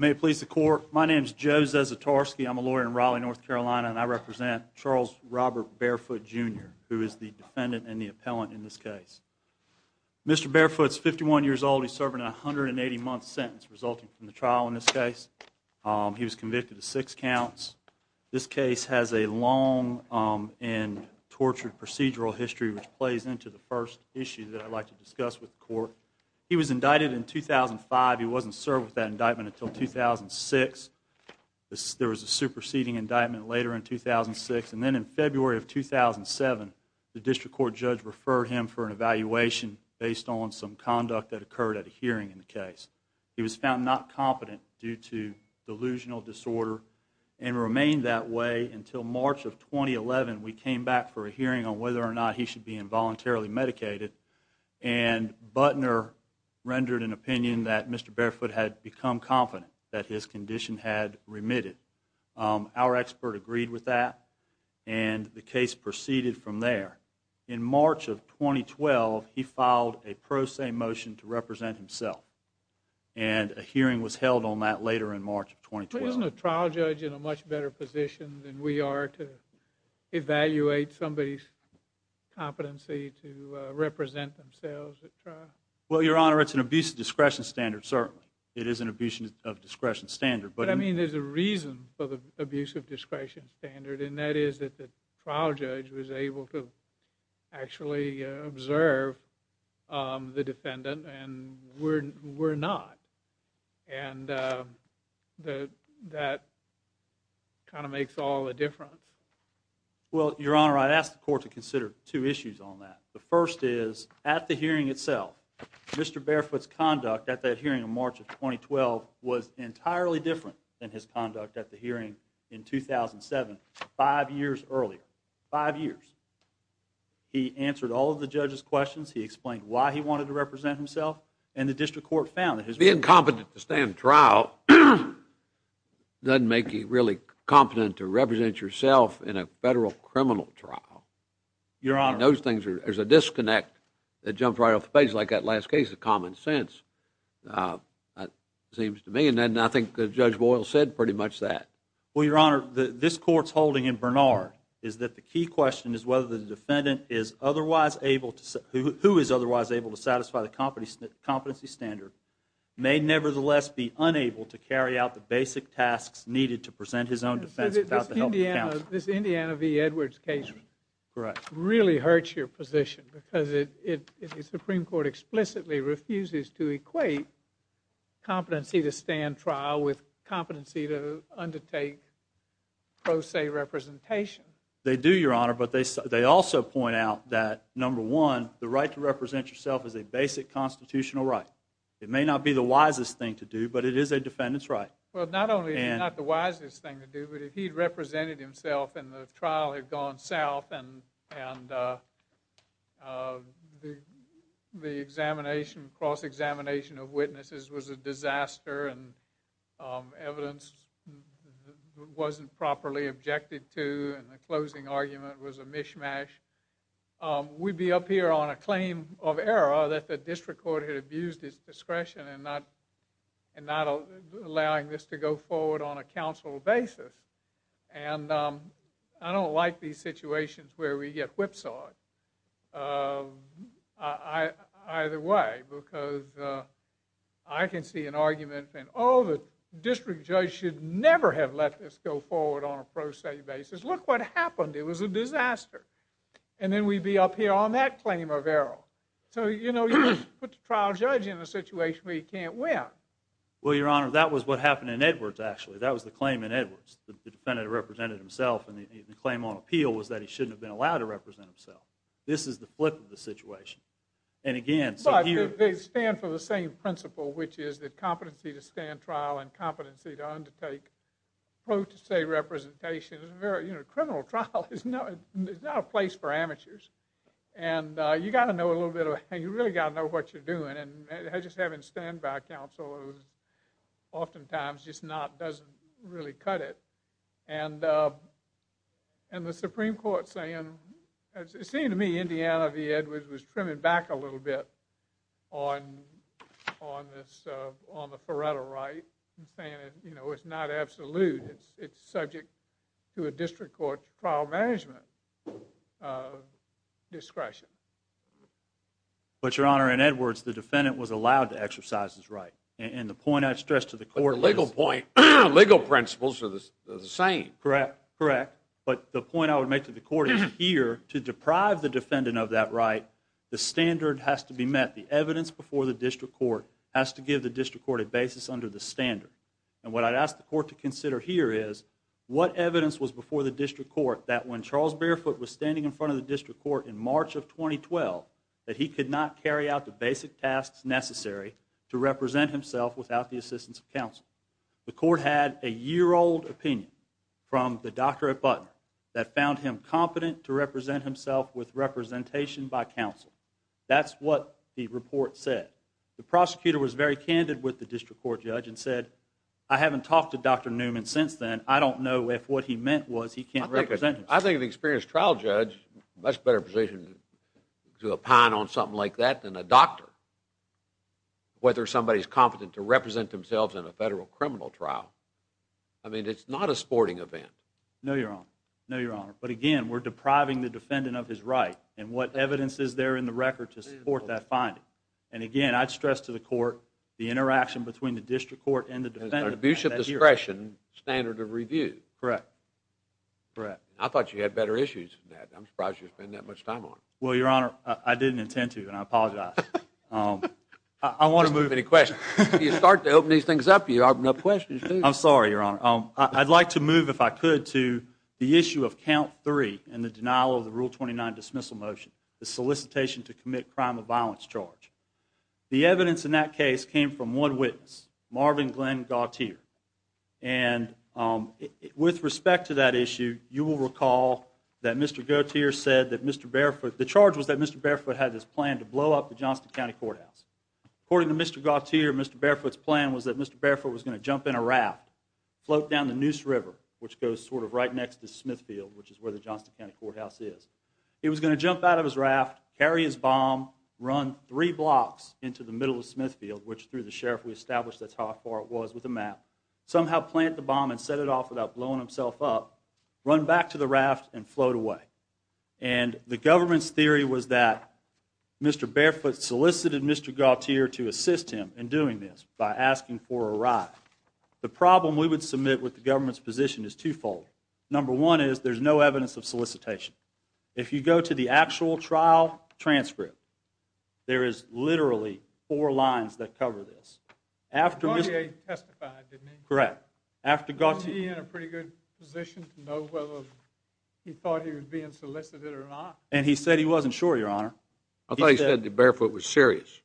May it please the court, my name is Joe Zasatarsky, I'm a lawyer in Raleigh, North Carolina, and I represent Charles Robert Barefoot, Jr., who is the defendant and the appellant in this case. Mr. Barefoot is 51 years old, he's serving a 180-month sentence resulting from the trial in this case. He was convicted of six counts. This case has a long and tortured procedural history, which plays into the first issue that I'd like to discuss with the court. He was indicted in 2005, he wasn't served with that indictment until 2006. There was a superseding indictment later in 2006, and then in February of 2007, the district court judge referred him for an evaluation based on some conduct that occurred at a hearing in the case. He was found not competent due to delusional disorder and remained that way until March of 2011. We came back for a hearing on whether or not he should be involuntarily medicated, and Butner rendered an opinion that Mr. Barefoot had become confident that his condition had remitted. Our expert agreed with that, and the case proceeded from there. In March of 2012, he filed a pro se motion to represent himself, and a hearing was held on that later in March of 2012. But isn't a trial judge in a much better position than we are to evaluate somebody's competency to represent themselves at trial? Well, Your Honor, it's an abuse of discretion standard, certainly. It is an abuse of discretion standard, but But I mean, there's a reason for the abuse of discretion standard, and that is that the actually observe the defendant, and we're not. And that kind of makes all the difference. Well, Your Honor, I asked the court to consider two issues on that. The first is, at the hearing itself, Mr. Barefoot's conduct at that hearing in March of 2012 was entirely different than his conduct at the hearing in 2007, five years earlier. Five years. He answered all of the judge's questions, he explained why he wanted to represent himself, and the district court found that his Being competent to stand trial doesn't make you really competent to represent yourself in a federal criminal trial. Your Honor And those things, there's a disconnect that jumps right off the page, like that last case of common sense, it seems to me, and I think Judge Boyle said pretty much that. Well, Your Honor, this court's holding in Bernard is that the key question is whether the defendant is otherwise able to, who is otherwise able to satisfy the competency standard may nevertheless be unable to carry out the basic tasks needed to present his own defense without the help of counsel. This Indiana v. Edwards case really hurts your position, because the Supreme Court explicitly refuses to equate competency to stand trial with competency to undertake pro se representation. They do, Your Honor, but they also point out that, number one, the right to represent yourself is a basic constitutional right. It may not be the wisest thing to do, but it is a defendant's right. Well, not only is it not the wisest thing to do, but if he'd represented himself and the trial had gone south and the examination, cross-examination of witnesses was a disaster and evidence wasn't properly objected to and the closing argument was a mishmash, we'd be up here on a claim of error that the district court had abused its discretion in not allowing this to go forward on a counsel basis, and I don't like these situations where we get whipsawed either way, because I can see an argument saying, oh, the district judge should never have let this go forward on a pro se basis. Look what happened. It was a disaster. And then we'd be up here on that claim of error. So you know, you just put the trial judge in a situation where he can't win. Well, Your Honor, that was what happened in Edwards, actually. That was the claim in Edwards. The defendant represented himself, and the claim on appeal was that he shouldn't have been allowed to represent himself. This is the flip of the situation. And again, so here- But they stand for the same principle, which is the competency to stand trial and competency to undertake pro se representation. Criminal trial is not a place for amateurs. And you really got to know what you're doing. And just having standby counsel oftentimes just doesn't really cut it. And the Supreme Court saying, it seemed to me Indiana v. Edwards was trimming back a little bit on the Faretto right and saying, you know, it's not absolute. It's subject to a district court trial management discretion. But, Your Honor, in Edwards, the defendant was allowed to exercise his right. And the point I'd stress to the court- But the legal point, legal principles are the same. Correct. Correct. But the point I would make to the court is here, to deprive the defendant of that right, the standard has to be met. The evidence before the district court has to give the district court a basis under the standard. And what I'd ask the court to consider here is, what evidence was before the district court that when Charles Barefoot was standing in front of the district court in March of 2012, that he could not carry out the basic tasks necessary to represent himself without the assistance of counsel? The court had a year-old opinion from the doctor at Button that found him competent to represent himself with representation by counsel. That's what the report said. The prosecutor was very candid with the district court judge and said, I haven't talked to Dr. Newman since then. And I don't know if what he meant was he can't represent himself. I think an experienced trial judge is much better positioned to opine on something like that than a doctor, whether somebody's competent to represent themselves in a federal criminal trial. I mean, it's not a sporting event. No, Your Honor. No, Your Honor. But again, we're depriving the defendant of his right. And what evidence is there in the record to support that finding? And it's under the Bishop discretion standard of review. Correct. Correct. I thought you had better issues than that. I'm surprised you spend that much time on it. Well, Your Honor, I didn't intend to, and I apologize. I want to move any questions. You start to open these things up, you open up questions, too. I'm sorry, Your Honor. I'd like to move, if I could, to the issue of count three in the denial of the Rule 29 dismissal motion, the solicitation to commit crime of violence charge. The evidence in that case came from one witness, Marvin Glenn Gauthier. And with respect to that issue, you will recall that Mr. Gauthier said that Mr. Barefoot, the charge was that Mr. Barefoot had this plan to blow up the Johnston County Courthouse. According to Mr. Gauthier, Mr. Barefoot's plan was that Mr. Barefoot was going to jump in a raft, float down the Neuse River, which goes sort of right next to Smithfield, which is where the Johnston County Courthouse is. He was going to jump out of his raft, carry his bomb, run three blocks into the middle of Smithfield, which through the sheriff we established that's how far it was with a map, somehow plant the bomb and set it off without blowing himself up, run back to the raft and float away. And the government's theory was that Mr. Barefoot solicited Mr. Gauthier to assist him in doing this by asking for a ride. The problem we would submit with the government's position is twofold. Number one is there's no evidence of solicitation. If you go to the actual trial transcript, there is literally four lines that cover this. Gauthier testified, didn't he? Correct. Wasn't he in a pretty good position to know whether he thought he was being solicited or not? And he said he wasn't sure, Your Honor. I thought he said that Barefoot was serious.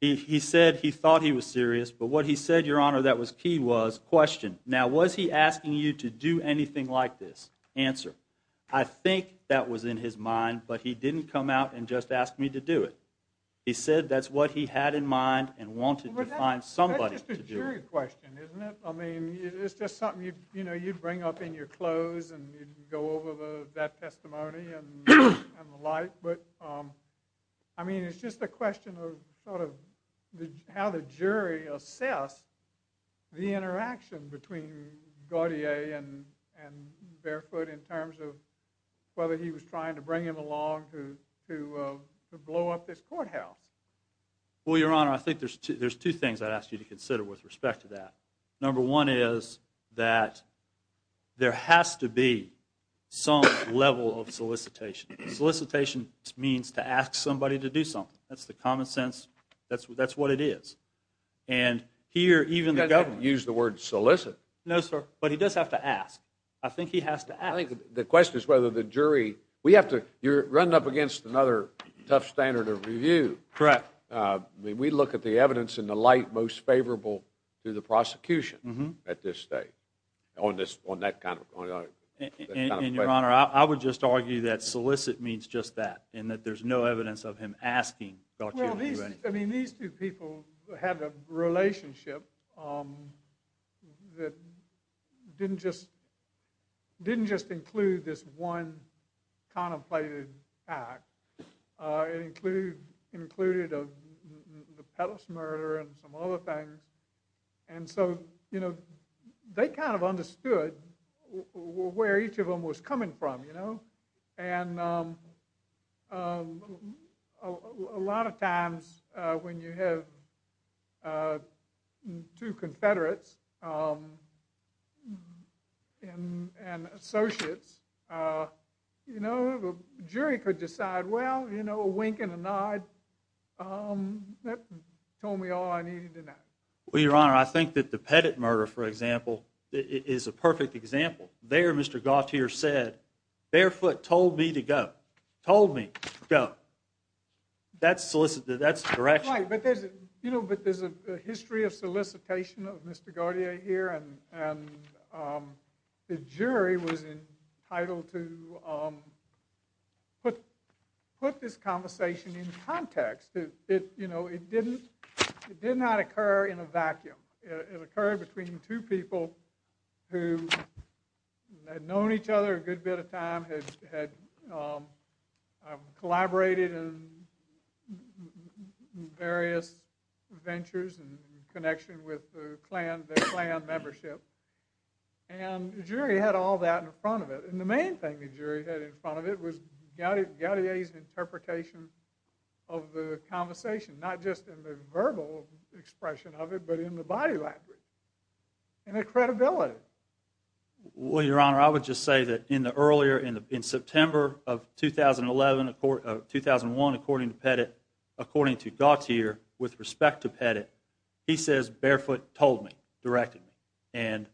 He said he thought he was serious, but what he said, Your Honor, that was key was, question, now was he asking you to do anything like this? Answer, I think that was in his mind, but he didn't come out and just ask me to do it. He said that's what he had in mind and wanted to find somebody to do it. That's just a jury question, isn't it? I mean, it's just something you'd bring up in your clothes and you'd go over that testimony and the like, but I mean, it's just a question of sort of how the jury assess the interaction between Gauthier and Barefoot in terms of whether he was trying to bring him along to blow up this courthouse. Well, Your Honor, I think there's two things I'd ask you to consider with respect to that. Number one is that there has to be some level of solicitation. Solicitation means to ask somebody to do something. That's the common sense. That's what it is. And here, even the government... He doesn't use the word solicit. No, sir. But he does have to ask. I think he has to ask. I think the question is whether the jury... We have to... You're running up against another tough standard of review. Correct. We look at the evidence in the light most favorable to the prosecution at this stage on that kind of... And, Your Honor, I would just argue that solicit means just that and that there's no evidence of him asking Gauthier to do anything. I mean, these two people had a relationship that didn't just include this one contemplated act. It included the Pettus murder and some other things. And so, you know, they kind of understood where each of them was coming from, you know? And a lot of times when you have two Confederates and associates, you know, the jury could decide, well, you know, a wink and a nod. That told me all I needed to know. Well, Your Honor, I think that the Pettus murder, for example, is a perfect example. There, Mr. Gauthier said, barefoot, told me to go. Told me to go. That's solicit. That's the direction. Right, but there's a history of solicitation of Mr. Gauthier here and the jury was entitled to put this conversation in context. You know, it did not occur in a vacuum. It occurred between two people who had known each other a good bit of time, had collaborated in various ventures in connection with their clan membership, and the jury had all that in front of it. And the main thing the jury had in front of it was Gauthier's interpretation of the conversation, not just in the verbal expression of it, but in the body language and the credibility. Well, Your Honor, I would just say that in the earlier, in September of 2011, 2001, according to Pettit, according to Gauthier, with respect to Pettit, he says, barefoot, told me, directed me. And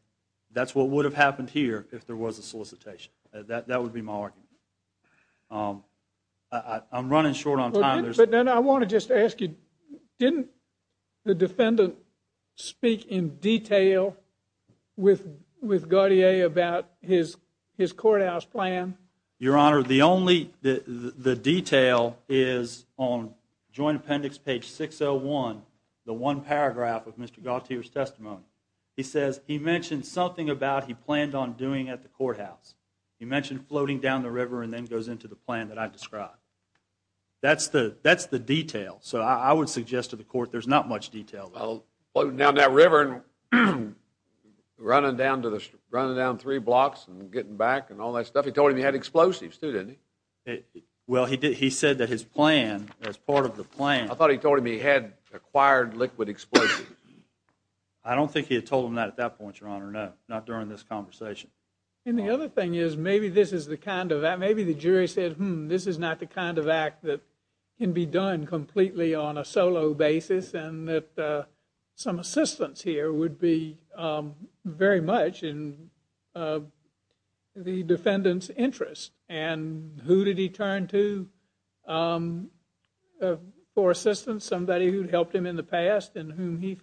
that's what would have happened here if there was a solicitation. That would be my argument. I'm running short on time. But then I want to just ask you, didn't the defendant speak in detail with Gauthier about his courthouse plan? Your Honor, the only, the detail is on Joint Appendix page 601, the one paragraph of Mr. Gauthier's testimony. He says he mentioned something about he planned on doing at the courthouse. He mentioned floating down the river and then goes into the plan that I described. That's the detail. So I would suggest to the court there's not much detail. Well, floating down that river and running down three blocks and getting back and all that stuff. He told him he had explosives, too, didn't he? Well, he said that his plan, as part of the plan. I thought he told him he had acquired liquid explosives. I don't think he had told him that at that point, Your Honor, no. Not during this conversation. And the other thing is, maybe this is the kind of, maybe the jury said, hmm, this is not the kind of act that can be done completely on a solo basis and that some assistance here would be very much in the defendant's interest. And who did he turn to for assistance? Somebody who'd helped him in the past and whom he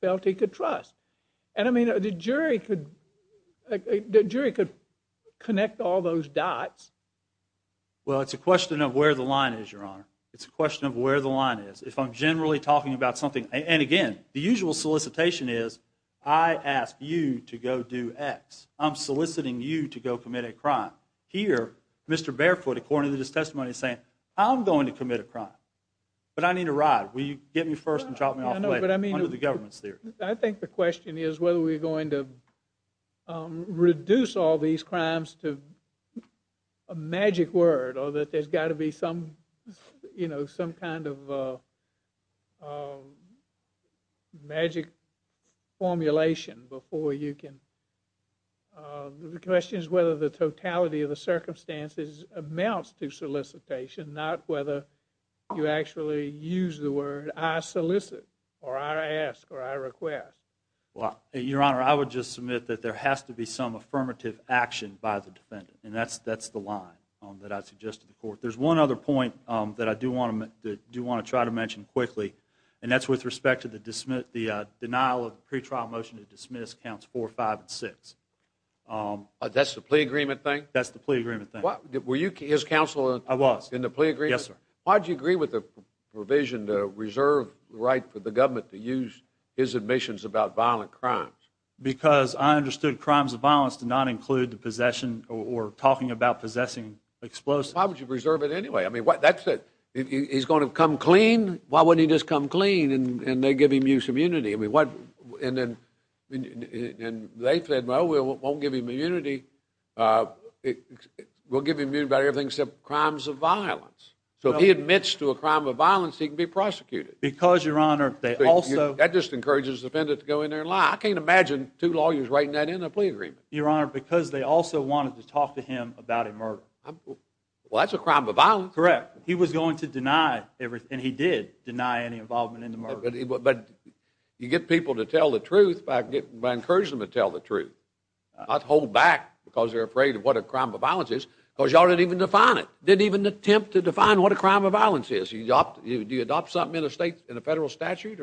felt he could trust. And, I mean, the jury could, the jury could connect all those dots. Well, it's a question of where the line is, Your Honor. It's a question of where the line is. If I'm generally talking about something, and again, the usual solicitation is, I ask you to go do X. I'm soliciting you to go commit a crime. Here, Mr. Barefoot, according to this testimony, is saying, I'm going to commit a crime. But I need a ride. Will you get me first and drop me off later? Under the government's theory. I think the question is whether we're going to reduce all these crimes to a magic word or that there's got to be some, you know, some kind of magic formulation before you can, the question is whether the totality of the circumstances amounts to solicitation, not whether you actually use the word, I solicit, or I ask, or I request. Well, Your Honor, I would just submit that there has to be some affirmative action by the defendant. And that's the line that I suggest to the court. There's one other point that I do want to try to mention quickly, and that's with respect to the denial of the pretrial motion to dismiss counts 4, 5, and 6. That's the plea agreement thing? That's the plea agreement thing. Were you his counsel? I was. In the plea agreement? Yes, sir. Why did you agree with the provision to reserve the right for the government to use his admissions about violent crimes? Because I understood crimes of violence did not include the possession or talking about possessing explosives. Why would you reserve it anyway? I mean, that's it. He's going to come clean? Why wouldn't he just come clean and they give him use immunity? And they said, well, we won't give him immunity. We'll give him immunity about everything except crimes of violence. So if he admits to a crime of violence, he can be prosecuted. Because, Your Honor, they also... That just encourages the defendant to go in there and lie. I can't imagine two lawyers writing that in a plea agreement. Your Honor, because they also wanted to talk to him about a murder. Well, that's a crime of violence. Correct. He was going to deny everything. And he did deny any involvement in the murder. But you get people to tell the truth by encouraging them to tell the truth. Not hold back because they're afraid of what a crime of violence is. Because y'all didn't even define it. Didn't even attempt to define what a crime of violence is. Do you adopt something in a federal statute?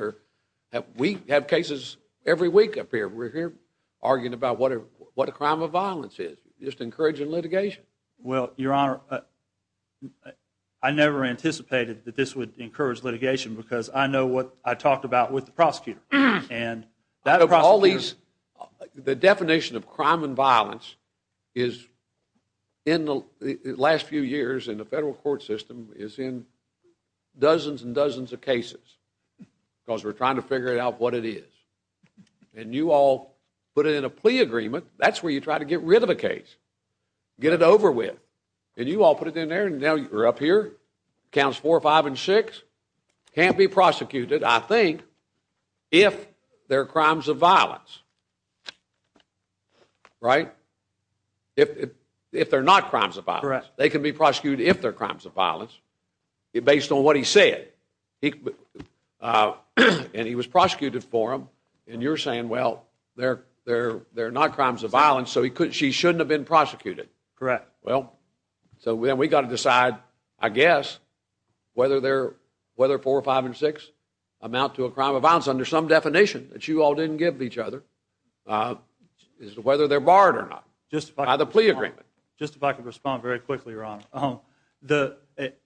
We have cases every week up here. We're here arguing about what a crime of violence is. Just encouraging litigation. Well, Your Honor, I never anticipated that this would encourage litigation because I know what I talked about with the prosecutor. And that prosecutor... Out of all these... The definition of crime of violence is... In the last few years in the federal court system is in dozens and dozens of cases. Because we're trying to figure out what it is. And you all put it in a plea agreement. That's where you try to get rid of a case. Get it over with. And you all put it in there and now you're up here. Counts four, five, and six. Can't be prosecuted, I think, if they're crimes of violence. Right? If they're not crimes of violence. Correct. They can be prosecuted if they're crimes of violence based on what he said. And he was prosecuted for them. And you're saying, well, they're not crimes of violence so she shouldn't have been prosecuted. Correct. Well, then we've got to decide, I guess, whether four, five, and six amount to a crime of violence under some definition that you all didn't give each other. Whether they're barred or not by the plea agreement. Just if I could respond very quickly, Your Honor.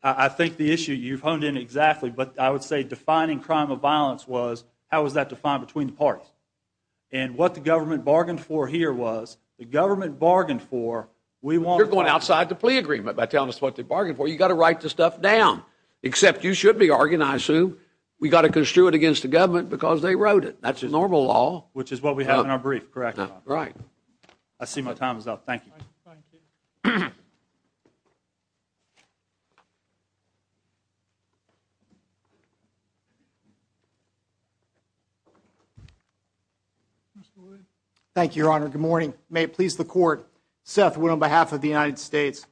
I think the issue you've honed in exactly, but I would say defining crime of violence was how was that defined between the parties. And what the government bargained for here was the government bargained for You're going outside the plea agreement by telling us what they bargained for. You've got to write this stuff down. Except you should be arguing, I assume, we've got to construe it against the government because they wrote it. That's just normal law. Which is what we have in our brief. Correct. I see my time is up. Thank you. Thank you, Your Honor. Good morning. May it please the court. Seth Wood on behalf of the United States.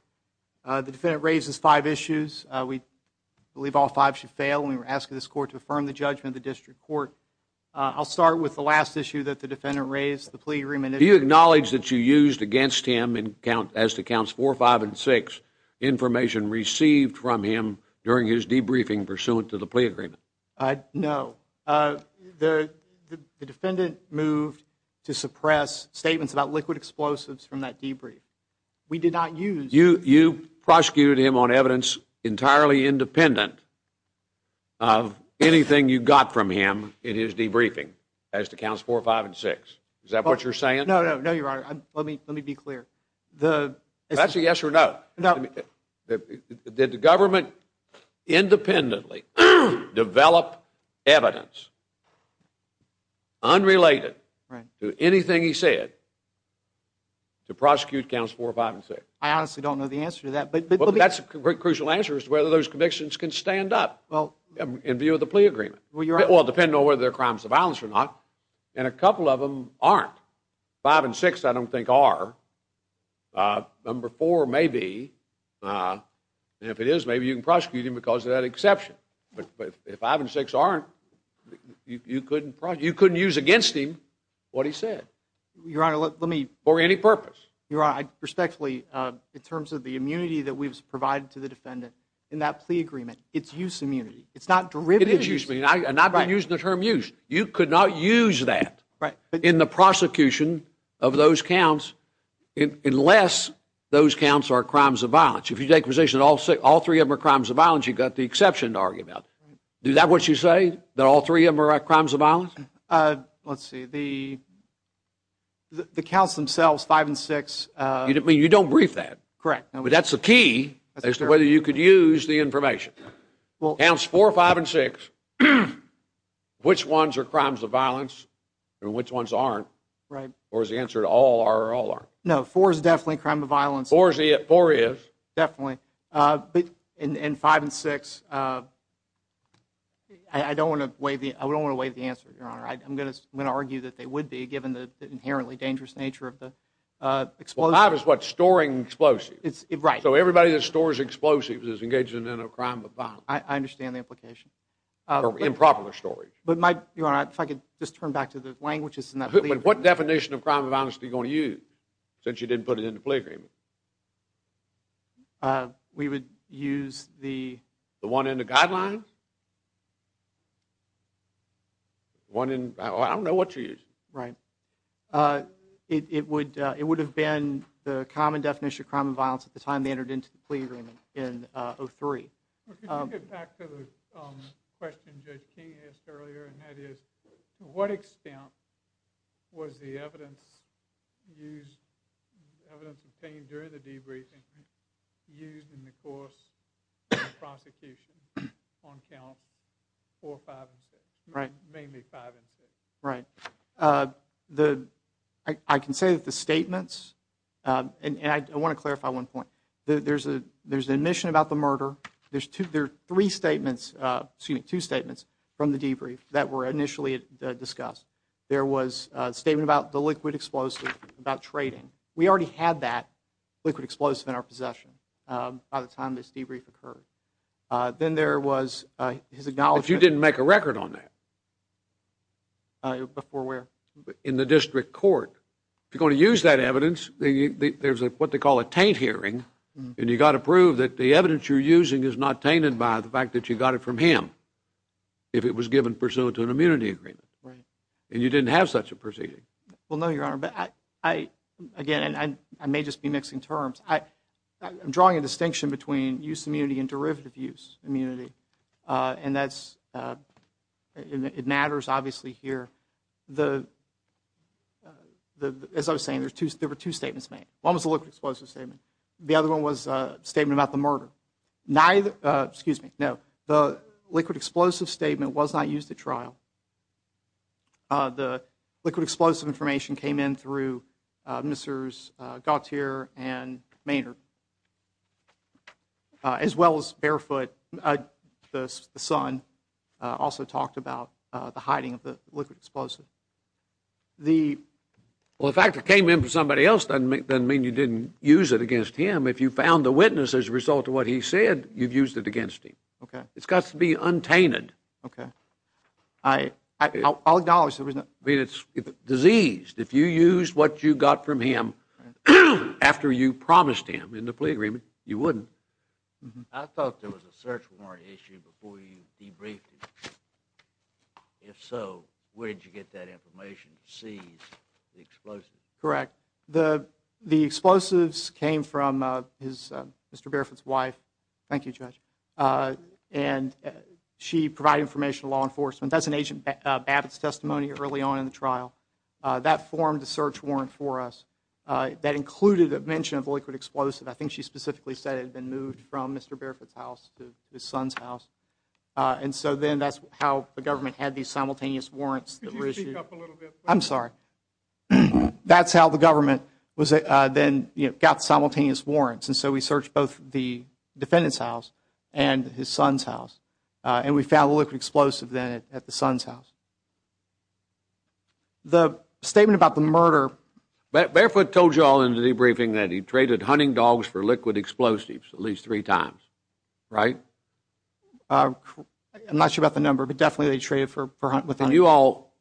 The defendant raises five issues. We believe all five should fail. We're asking this court to affirm the judgment of the district court. I'll start with the last issue that the defendant raised. The plea agreement. Do you acknowledge that you used against him as to counts four, five, and six information received from him during his debriefing pursuant to the plea agreement? No. The defendant moved to suppress statements about liquid explosives from that debrief. We did not use... You prosecuted him on evidence entirely independent of anything you got from him in his debriefing as to counts four, five, and six. Is that what you're saying? No, no, no, Your Honor. Let me be clear. That's a yes or no? No. Did the government independently develop evidence unrelated to anything he said to prosecute counts four, five, and six? I honestly don't know the answer to that. But that's a crucial answer as to whether those convictions can stand up in view of the plea agreement. Well, depending on whether they're crimes of violence or not. And a couple of them aren't. Five and six I don't think are. Number four may be. And if it is, maybe you can prosecute him because of that exception. But if five and six aren't, you couldn't use against him what he said for any purpose. Your Honor, I respectfully in terms of the immunity that we've provided to the defendant in that plea agreement, it's use immunity. It's not derivative use. And I've been using the term use. You could not use that in the prosecution of those counts unless those counts are crimes of violence. If you take the position all three of them are crimes of violence, you've got the exception to argue about. Is that what you say? That all three of them are crimes of violence? Let's see. The counts themselves, five and six. You don't brief that. Correct. But that's the key as to whether you could use the information. Counts four, five, and six, which ones are crimes of violence and which ones aren't? Right. Or is the answer to all are or all aren't? No, four is definitely a crime of violence. Four is. Definitely. But in five and six, I don't want to wave the answer, Your Honor. I'm going to argue that they would be given the inherently dangerous nature of the explosive. Five is what? Storing explosives. Right. So everybody that stores explosives is engaging in a crime of violence. I understand the implication. Or improper storage. Your Honor, if I could just turn back to the languages. What definition of crime of violence are you going to use since you didn't put it in the plea agreement? We would use the one in the guidelines? One in, I don't know what you're using. Right. It would have been the common definition of crime of violence at the time they entered into the plea agreement in 03. Can we get back to the question Judge King asked earlier and that is to what extent was the evidence used, evidence obtained during the debriefing used in the course of the prosecution on count four, five, and six? Right. Mainly five and six. Right. The, I can say that the statements and I want to clarify one point. There's an admission about the murder. There are three statements excuse me, two statements from the debrief that were initially discussed. There was a statement about the liquid explosive about trading. We already had that liquid explosive in our possession by the time this debrief occurred. Then there was his acknowledgement. If you didn't make a record on that? Before where? In the district court. If you're going to use that evidence there's what they call a taint hearing and you got to prove that the evidence you're using is not tainted by the fact that you got it from him if it was given pursuant to an immunity agreement. And you didn't have such a proceeding. Well, no, Your Honor. Again, I may just be mixing terms. I'm drawing a distinction between use immunity and derivative use immunity and that's it matters obviously here. As I was saying there were two statements made. One was the liquid explosive statement. The other one was a statement about the murder. The liquid explosive statement was not used at trial. The liquid explosive information came in through Mr. Gautier and Maynard as well as Barefoot the son also talked about the hiding of the liquid explosive. The Well, the fact it came in from somebody else doesn't mean you didn't use it against him. If you found the witness as a result of what he said you've used it against him. It's got to be untainted. I'll acknowledge there was no I mean, it's diseased. If you used what you got from him after you promised him in the plea agreement, you wouldn't. I thought there was a search warrant issue before you debriefed him. If so where did you get that information to seize the explosive? The explosives came from Mr. Barefoot's wife and she provided information to law enforcement. That's an agent Babbitt's testimony early on in the trial. That formed a search warrant for us. That included a mention of liquid explosive. I think she specifically said it had been moved from Mr. Barefoot's house to his son's house. That's how the government had these simultaneous warrants. I'm sorry. That's how the government got simultaneous warrants. We searched both the defendant's house and his son's house and we found liquid explosive at the son's house. The statement about the murder... Barefoot told you all in the debriefing that he traded hunting dogs for liquid explosives at least three times, right? I'm not sure about the number, but definitely they traded for hunting dogs. You all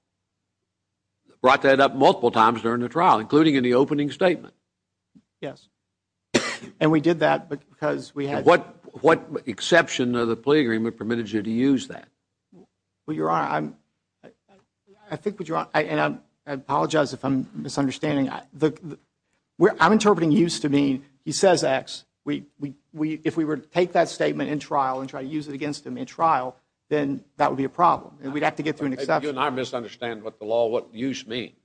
brought that up multiple times during the trial including in the opening statement. Yes. And we did that because we had... What exception of the plea agreement permitted you to use that? Your Honor, I apologize if I'm misunderstanding. I'm interpreting used to mean, he says X. If we were to take that statement in trial and try to use it against him in trial, then that would be a problem. We'd have to get through an exception. You and I misunderstand what the law, what use means.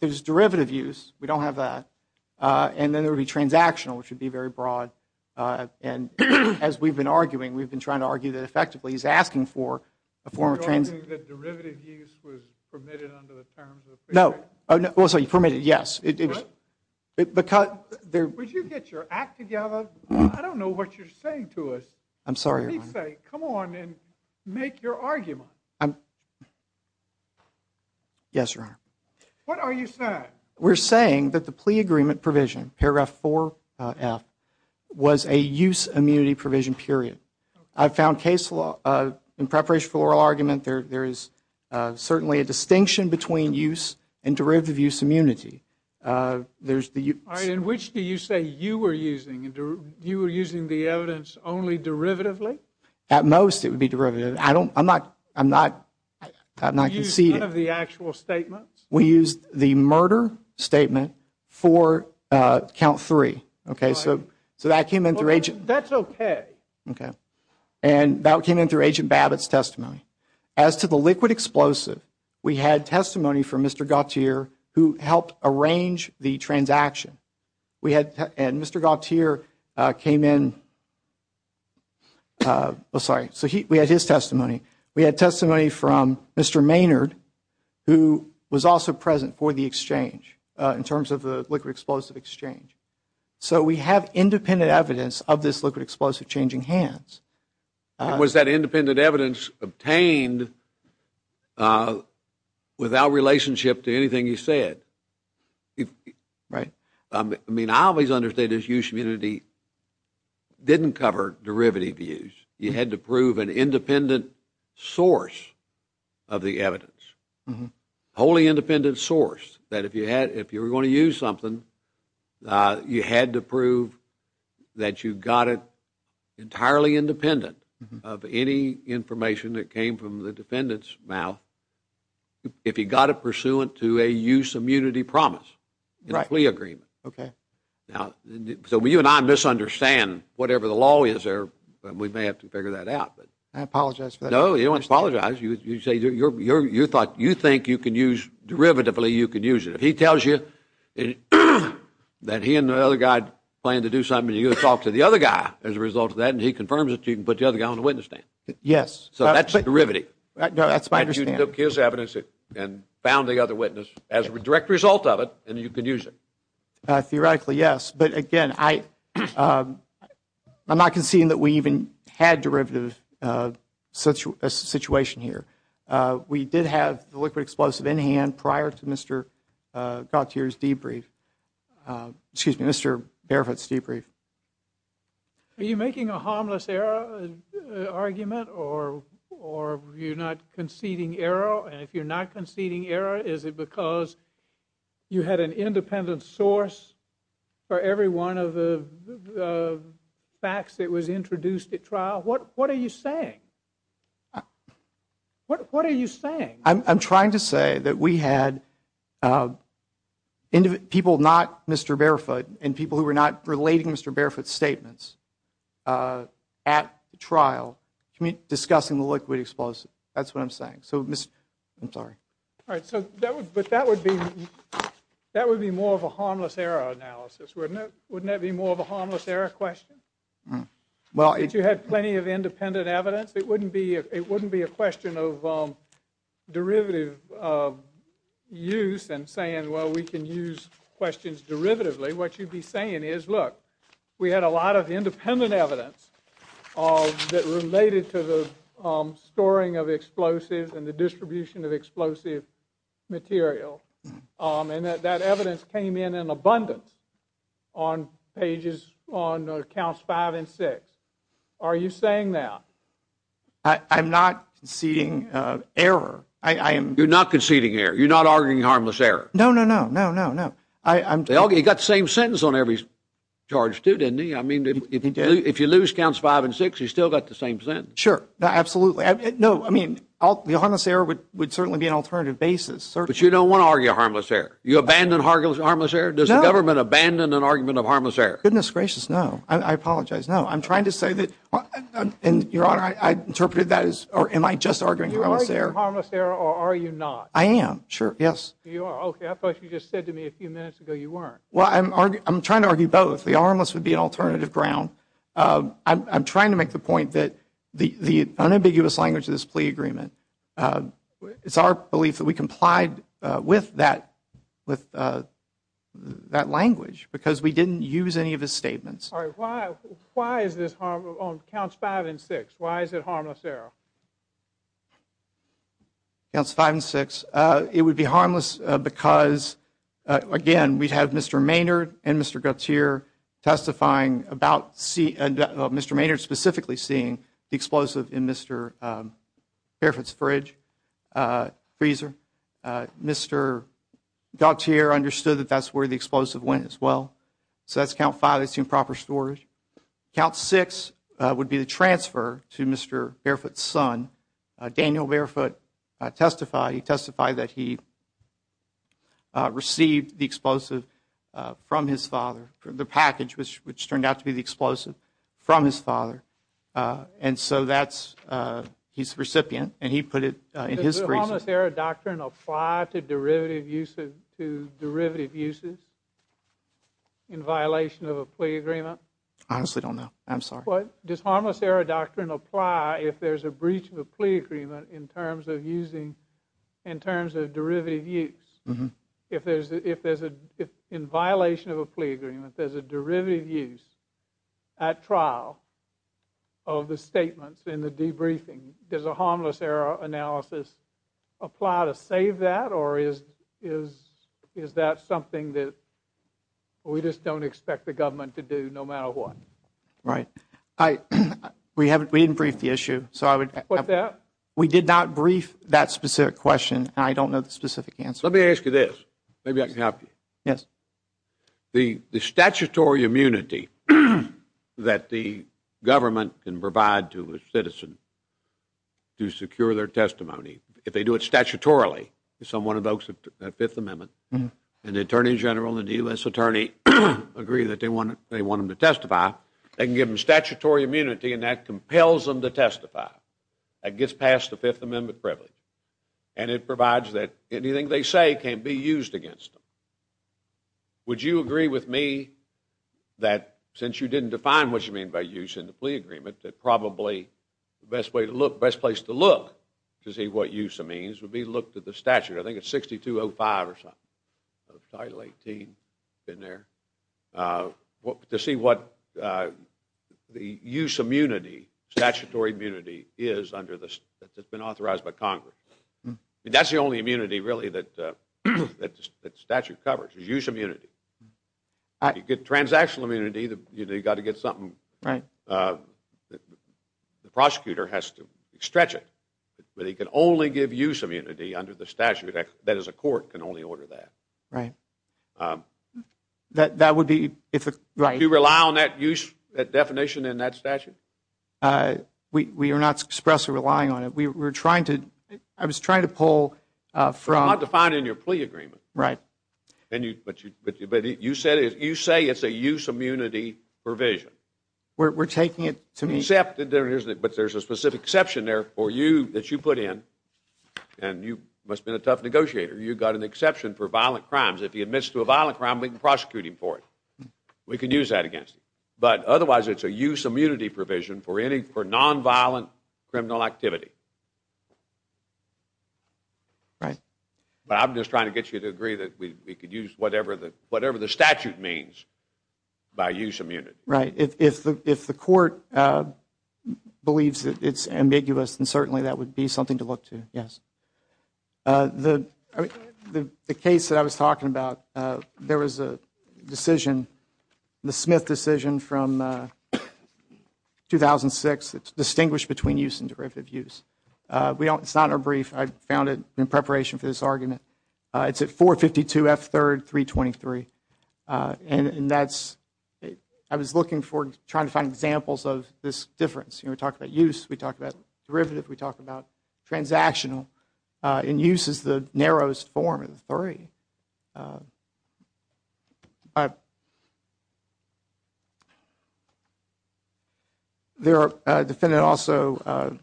There's derivative use. We don't have that. And then there would be transactional, which would be very broad. And as we've been arguing, we've been trying to argue that effectively he's asking for a form of... You're arguing that derivative use was permitted under the terms of the plea agreement? No. Well, sorry, permitted, yes. Would you get your act together? I don't know what you're saying to us. Let me say, come on and make your argument. Yes, Your Honor. What are you saying? We're saying that the plea agreement provision, paragraph 4F, was a use immunity provision, period. I found in preparation for oral argument there is certainly a distinction between use and derivative use immunity. In which do you say you were using the evidence only derivatively? At most it would be derivative. I'm not conceding. You used none of the actual statements? We used the murder statement for count three. That's okay. And that came in through Agent Babbitt's testimony. As to the liquid explosive, we had testimony from Mr. Gautier who helped arrange the transaction. And Mr. Gautier came in... Sorry. We had his testimony. We had testimony from Mr. Gautier who was also present for the exchange in terms of the liquid explosive exchange. So we have independent evidence of this liquid explosive changing hands. Was that independent evidence obtained without relationship to anything you said? Right. I mean, I always understood use immunity didn't cover derivative use. You had to prove an independent source of the evidence. A wholly independent source that if you were going to use something you had to prove that you got it entirely independent of any information that came from the defendant's mouth if you got it pursuant to a use immunity promise in a plea agreement. So you and I misunderstand whatever the law is but we may have to figure that out. I apologize. No, you don't apologize. You thought you think you can use derivatively, you can use it. If he tells you that he and the other guy planned to do something and you talk to the other guy as a result of that and he confirms it, you can put the other guy on the witness stand. Yes. That's my understanding. You took his evidence and found the other witness as a direct result of it and you can use it. Theoretically, yes. But again, I'm not conceding that we even had derivative situation here. We did have the liquid explosive in hand prior to Mr. Gauthier's debrief. Excuse me, Mr. Barefoot's debrief. Are you making a harmless error argument or are you not conceding error and if you're not conceding error, is it because you had an independent source for every one of the facts that was introduced at trial? What are you saying? What are you saying? I'm trying to say that we had people not Mr. Barefoot and people who were not relating Mr. Barefoot's statements at trial discussing the liquid explosive. That's what I'm saying. I'm sorry. That would be more of a harmless error analysis, wouldn't it? That would be more of a harmless error question. If you had plenty of independent evidence, it wouldn't be a question of derivative use and saying, well, we can use questions derivatively. What you'd be saying is, look, we had a lot of independent evidence that related to the storing of explosives and the distribution of explosive material and that evidence came in abundance on pages on counts 5 and 6. Are you saying that? I'm not conceding error. You're not conceding error? You're not arguing harmless error? No, no, no. You got the same sentence on every charge too, didn't you? I mean, if you lose counts 5 and 6, you still got the same sentence. Sure. Absolutely. No, I mean the harmless error would certainly be an alternative basis. But you don't want to argue a harmless error. You abandon harmless error? No. Does the government abandon an argument of harmless error? Goodness gracious, no. I apologize. No. I'm trying to say that Your Honor, I interpreted that as am I just arguing harmless error? Are you arguing harmless error or are you not? I am. Sure. Yes. You are. Okay. I thought you just said to me a few minutes ago you weren't. Well, I'm trying to argue both. The harmless would be an alternative ground. I'm trying to make the point that the unambiguous language of this plea agreement it's our belief that we with that language because we didn't use any of his statements. Why is this harmless on counts 5 and 6? Why is it harmless error? Counts 5 and 6. It would be harmless because again we have Mr. Maynard and Mr. Gutierre testifying about Mr. Maynard specifically seeing the explosive in Mr. Fairfax's fridge freezer Mr. Gutierre understood that that's where the explosive went as well. So that's count 5 that's improper storage. Count 6 would be the transfer to Mr. Barefoot's son Daniel Barefoot testified that he received the explosive from his father the package which turned out to be the explosive from his father and so that's his recipient and he put it Does the harmless error doctrine apply to derivative uses to derivative uses in violation of a plea agreement? I honestly don't know. I'm sorry. Does harmless error doctrine apply if there's a breach of a plea agreement in terms of using in terms of derivative use? If there's in violation of a plea agreement there's a derivative use at trial of the statements in the debriefing Does a harmless error analysis apply to save that or is that something that we just don't expect the government to do no matter what? We didn't brief the issue so I would We did not brief that specific question and I don't know the specific answer. Let me ask you this The statutory immunity that the government can provide to a citizen to secure their testimony if they do it statutorily someone invokes the Fifth Amendment and the Attorney General and the U.S. Attorney agree that they want them to testify they can give them statutory immunity and that compels them to testify that gets past the Fifth Amendment privilege and it provides that anything they say can't be used against them Would you agree with me that since you didn't define what you mean by use in the plea agreement that probably the best place to look to see what use means would be to look at the statute I think it's 6205 or something Title 18 to see what the use immunity statutory immunity is that's been authorized by Congress That's the only immunity really that the statute covers Use immunity If you get transactional immunity you've got to get something the prosecutor has to stretch it but he can only give use immunity under the statute that is a court can only order that That would be Do you rely on that use definition in that statute? We are not expressly relying on it I was trying to pull It's not defined in your plea agreement Right You say it's a use immunity provision We're taking it to me There's a specific exception there for you that you put in and you must have been a tough negotiator You got an exception for violent crimes If he admits to a violent crime we can prosecute him for it We can use that against him But otherwise it's a use immunity provision for non-violent criminal activity Right I'm just trying to get you to agree that we could use whatever the statute means by use immunity If the court believes that it's ambiguous then certainly that would be something to look to The case that I was talking about there was a decision the Smith decision from 2006 to distinguish between use and derivative use It's not a brief I found it in preparation for this argument It's at 452 F3 323 and that's I was looking for trying to find examples of this difference We talk about use, we talk about derivative we talk about transactional and use is the narrowest form of the three I The defendant also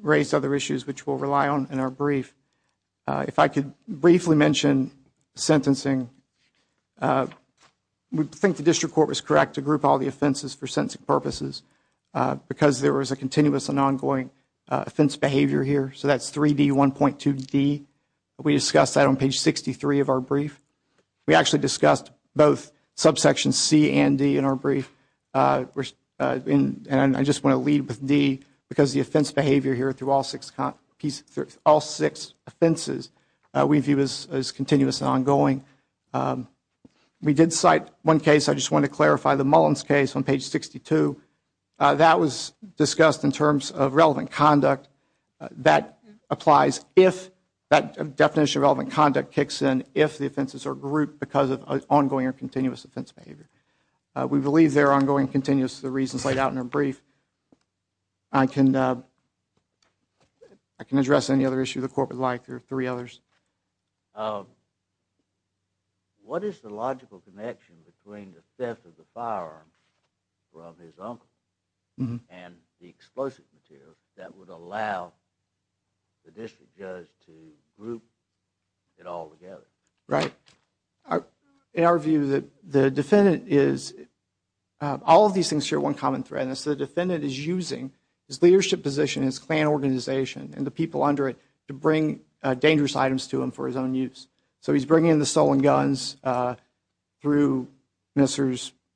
raised other issues which we'll rely on in our brief If I could briefly mention sentencing We think the district court was correct to group all the offenses for sentencing purposes because there was a continuous and ongoing offense behavior here so that's 3D 1.2D We discussed that on page 63 of our brief We actually discussed both subsection C and D in our brief and I just want to leave with D because the offense behavior here through all six offenses we view as continuous and ongoing We did cite one case I just want to clarify the Mullins case on page 62 That was discussed in terms of relevant conduct that applies if that offenses are grouped because of ongoing or continuous offense behavior We believe they are ongoing and continuous for the reasons laid out in our brief I can address any other issue of the court would like or three others What is the logical connection between the theft of the firearms from his uncle and the explosive materials that would allow the district judge to group it all together In our view the defendant is all of these things share one common thread and so the defendant is using his leadership position, his clan organization and the people under it to bring dangerous items to him for his own use So he's bringing in the stolen guns through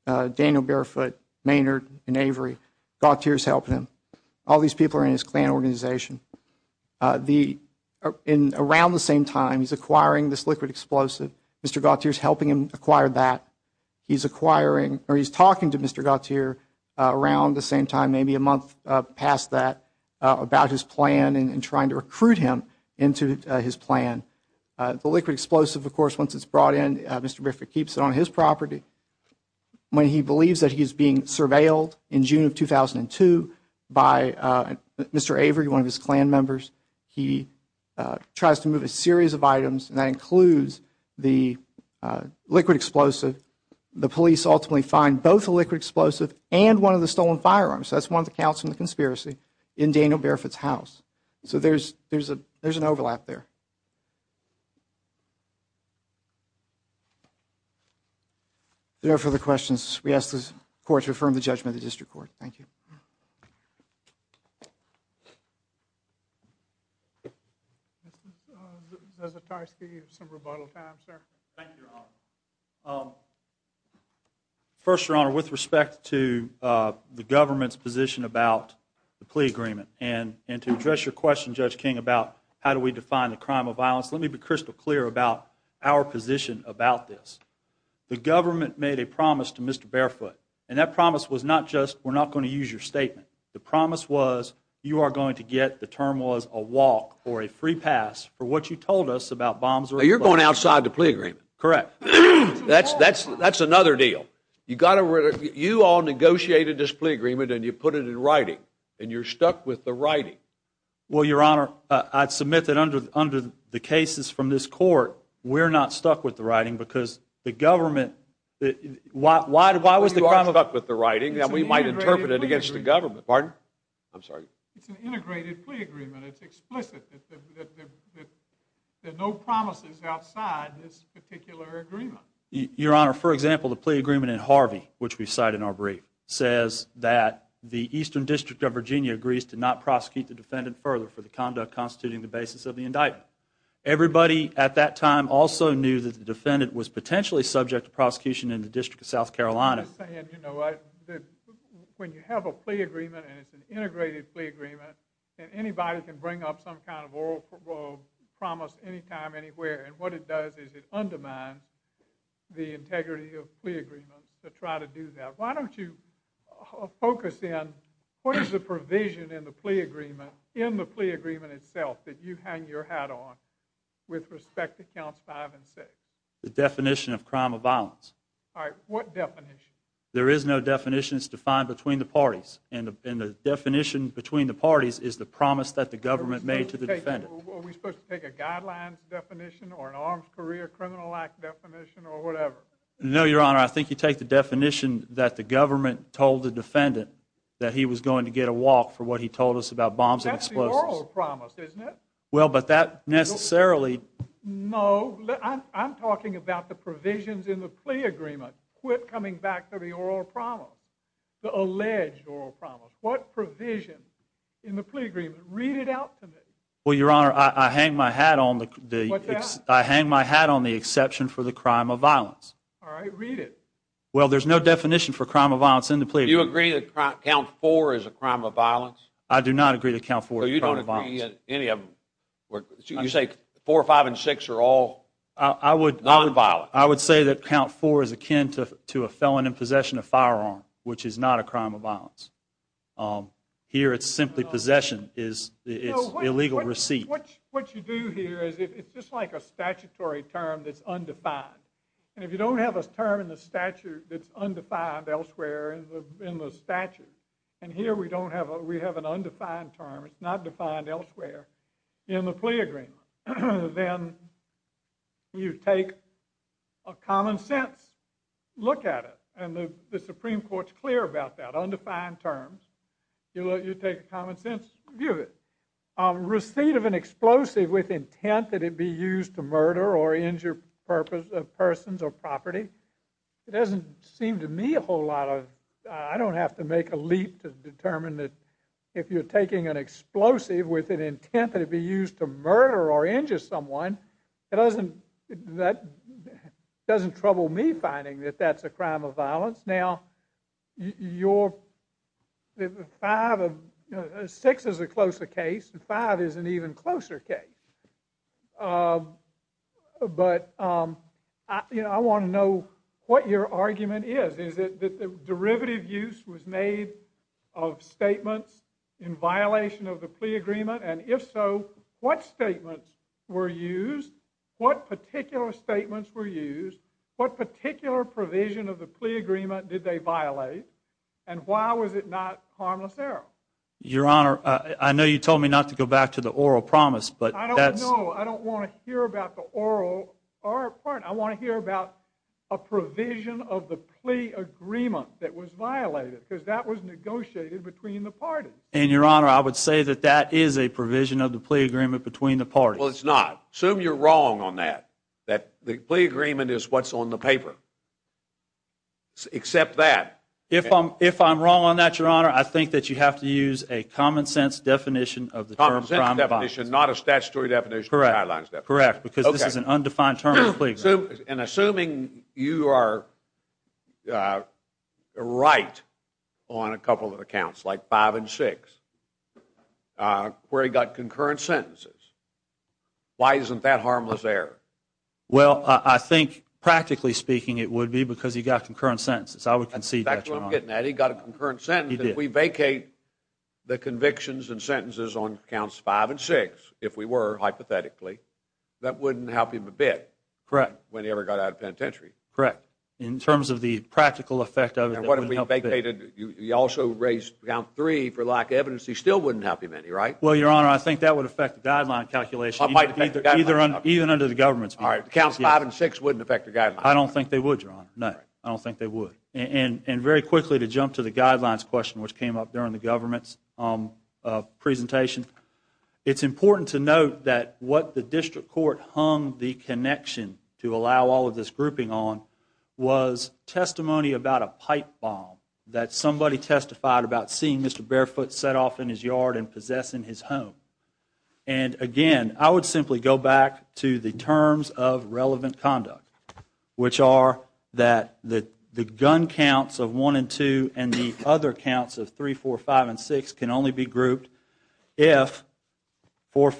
Daniel Barefoot Maynard and Avery Gautier is helping him All these people are in his clan organization Around the same time he's acquiring this liquid explosive Mr. Gautier is helping him acquire that He's acquiring or he's talking to Mr. Gautier around the same time, maybe a month past that about his plan and trying to recruit him into his plan The liquid explosive, of course, once it's brought in Mr. Barefoot keeps it on his property when he believes that he's being surveilled in June of 2002 by Mr. Avery One of his clan members He tries to move a series of items and that includes the liquid explosive The police ultimately find both the liquid explosive and one of the stolen firearms That's one of the counts from the conspiracy in Daniel Barefoot's house So there's an overlap there If there are no further questions we ask the court to affirm the judgment of the district court Thank you Mr. Zasitarsky you have some rebuttal time, sir Thank you, Your Honor First, Your Honor with respect to the government's position about the plea agreement and to address your question, Judge King about how do we define the crime of violence let me be crystal clear about our position about this The government made a promise to Mr. Barefoot and that promise was not just we're not going to use your statement The promise was you are going to get, the term was a walk or a free pass for what you told us about bombs Now you're going outside the plea agreement Correct That's another deal You all negotiated this plea agreement and you put it in writing and you're stuck with the writing Well, Your Honor I submit that under the cases from this court we're not stuck with the writing because the government Why was the crime Well, you are stuck with the writing and we might interpret it against the government It's an integrated plea agreement It's explicit There are no promises outside this particular agreement Your Honor, for example the plea agreement in Harvey which we cite in our brief says that the Eastern District of Virginia agrees to not prosecute the defendant further for the conduct constituting the basis of the indictment Everybody at that time also knew that the defendant was potentially subject to prosecution in the District of South Carolina I'm saying, you know when you have a plea agreement and it's an integrated plea agreement and anybody can bring up some kind of oral promise anytime, anywhere and what it does is it undermines the integrity of plea agreements to try to do that Why don't you focus in what is the provision in the plea agreement in the plea agreement itself that you hang your hat on with respect to counts 5 and 6 The definition of crime of violence Alright, what definition? There is no definition. It's defined between the parties and the definition between the parties is the promise that the government made to the defendant Are we supposed to take a guidelines definition or an arms career criminal act definition or whatever? No, Your Honor I think you take the definition that the government told the defendant that he was going to get a walk for what he told us about bombs and explosives. That's the oral promise, isn't it? Well, but that necessarily No, I'm talking about the provisions in the plea agreement Quit coming back to the oral promise The alleged oral promise. What provision in the plea agreement? Read it out to me Well, Your Honor, I hang my hat on the exception for the crime of violence Alright, read it Well, there's no definition for crime of violence in the plea agreement Do you agree that count 4 is a crime of violence? I do not agree that count 4 So you don't agree in any of them You say 4, 5, and 6 are all non-violent I would say that count 4 is akin to a felon in possession of firearm which is not a crime of violence Here it's simply possession. It's illegal receipt. What you do here is it's just like a statutory term that's undefined And if you don't have a term in the statute that's undefined elsewhere in the statute And here we have an undefined term. It's not defined elsewhere in the plea agreement Then you take a common sense look at it And the Supreme Court's clear about that. Undefined terms You take a common sense view of it Receipt of an explosive with intent that it be used to murder or injure persons or property It doesn't seem to me a whole lot of I don't have to make a leap to determine that if you're taking an explosive with an intent that it be used to murder or injure someone that doesn't trouble me finding that that's a crime of violence Now your 6 is a closer case 5 is an even closer case But I want to know what your derivative use was made of statements in violation of the plea agreement and if so what statements were used what particular statements were used what particular provision of the plea agreement did they violate and why was it not harmless error Your Honor I know you told me not to go back to the oral promise I don't know I don't want to hear about the oral I want to hear about a provision of the plea agreement that was violated because that was negotiated between the parties And Your Honor I would say that that is a provision of the plea agreement between the parties. Well it's not. Assume you're wrong on that. That the plea agreement is what's on the paper except that If I'm wrong on that Your Honor I think that you have to use a common sense definition of the term crime of violence Not a statutory definition Correct because this is an undefined term And assuming you are right on a couple of accounts like 5 and 6 where he got concurrent sentences why isn't that harmless error Well I think practically speaking it would be because he got concurrent sentences I would concede that Your Honor That's what I'm getting at he got a concurrent sentence If we vacate the convictions and sentences on accounts 5 and 6 if we were hypothetically that wouldn't help him a bit when he ever got out of penitentiary Correct in terms of the practical effect of it You also raised account 3 for lack of evidence he still wouldn't help him any right Well Your Honor I think that would affect the guideline calculation even under the government's view. Alright accounts 5 and 6 wouldn't affect the guidelines. I don't think they would Your Honor I don't think they would And very quickly to jump to the guidelines question which came up during the government's presentation It's important to note that what the district court hung the connection to allow all of this grouping on was testimony about a pipe bomb that somebody testified about seeing Mr. Barefoot set off in his yard and possessing his home and again I would simply go back to the terms of relevant conduct which are that the gun counts of 1 and 2 and the other counts of 3, 4, 5 and 6 can only be grouped if 3,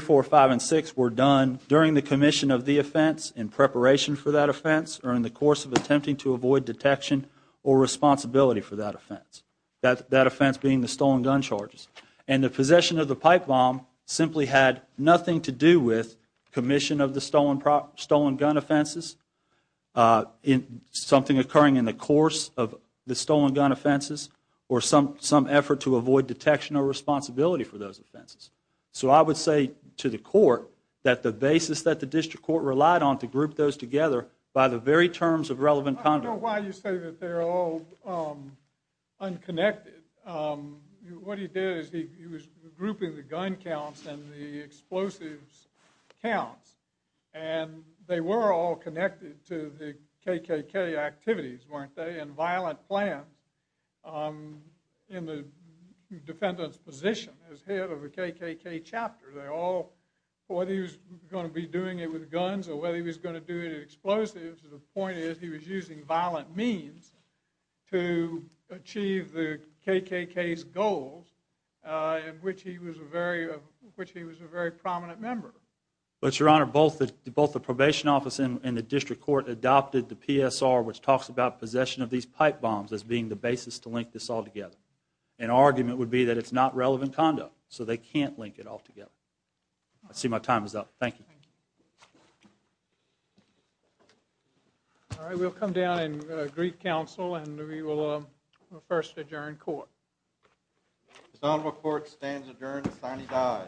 4, 5 and 6 were done during the commission of the offense in preparation for that offense or in the course of attempting to avoid detection or responsibility for that offense that offense being the stolen gun charges and the possession of the pipe bomb simply had nothing to do with commission of the stolen gun offenses something occurring in the course of the stolen gun offenses or some effort to avoid detection or responsibility for those offenses so I would say to the court that the basis that the district court relied on to group those together by the very terms of relevant conduct I don't know why you say that they're all unconnected what he did is he was grouping the gun counts and the explosives counts and they were all connected to the KKK activities weren't they violent plan in the defendant's position as head of the KKK chapter whether he was going to be doing it with guns or whether he was going to do it in explosives the point is he was using violent means to achieve the KKK's goals in which he was a very prominent member both the probation office and the district court adopted the these pipe bombs as being the basis to link this all together an argument would be that it's not relevant conduct so they can't link it all together I see my time is up thank you alright we'll come down and greet counsel and we will first adjourn court this honorable court stands adjourned signing die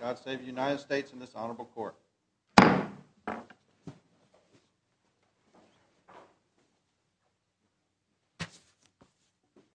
God save the United States and this honorable court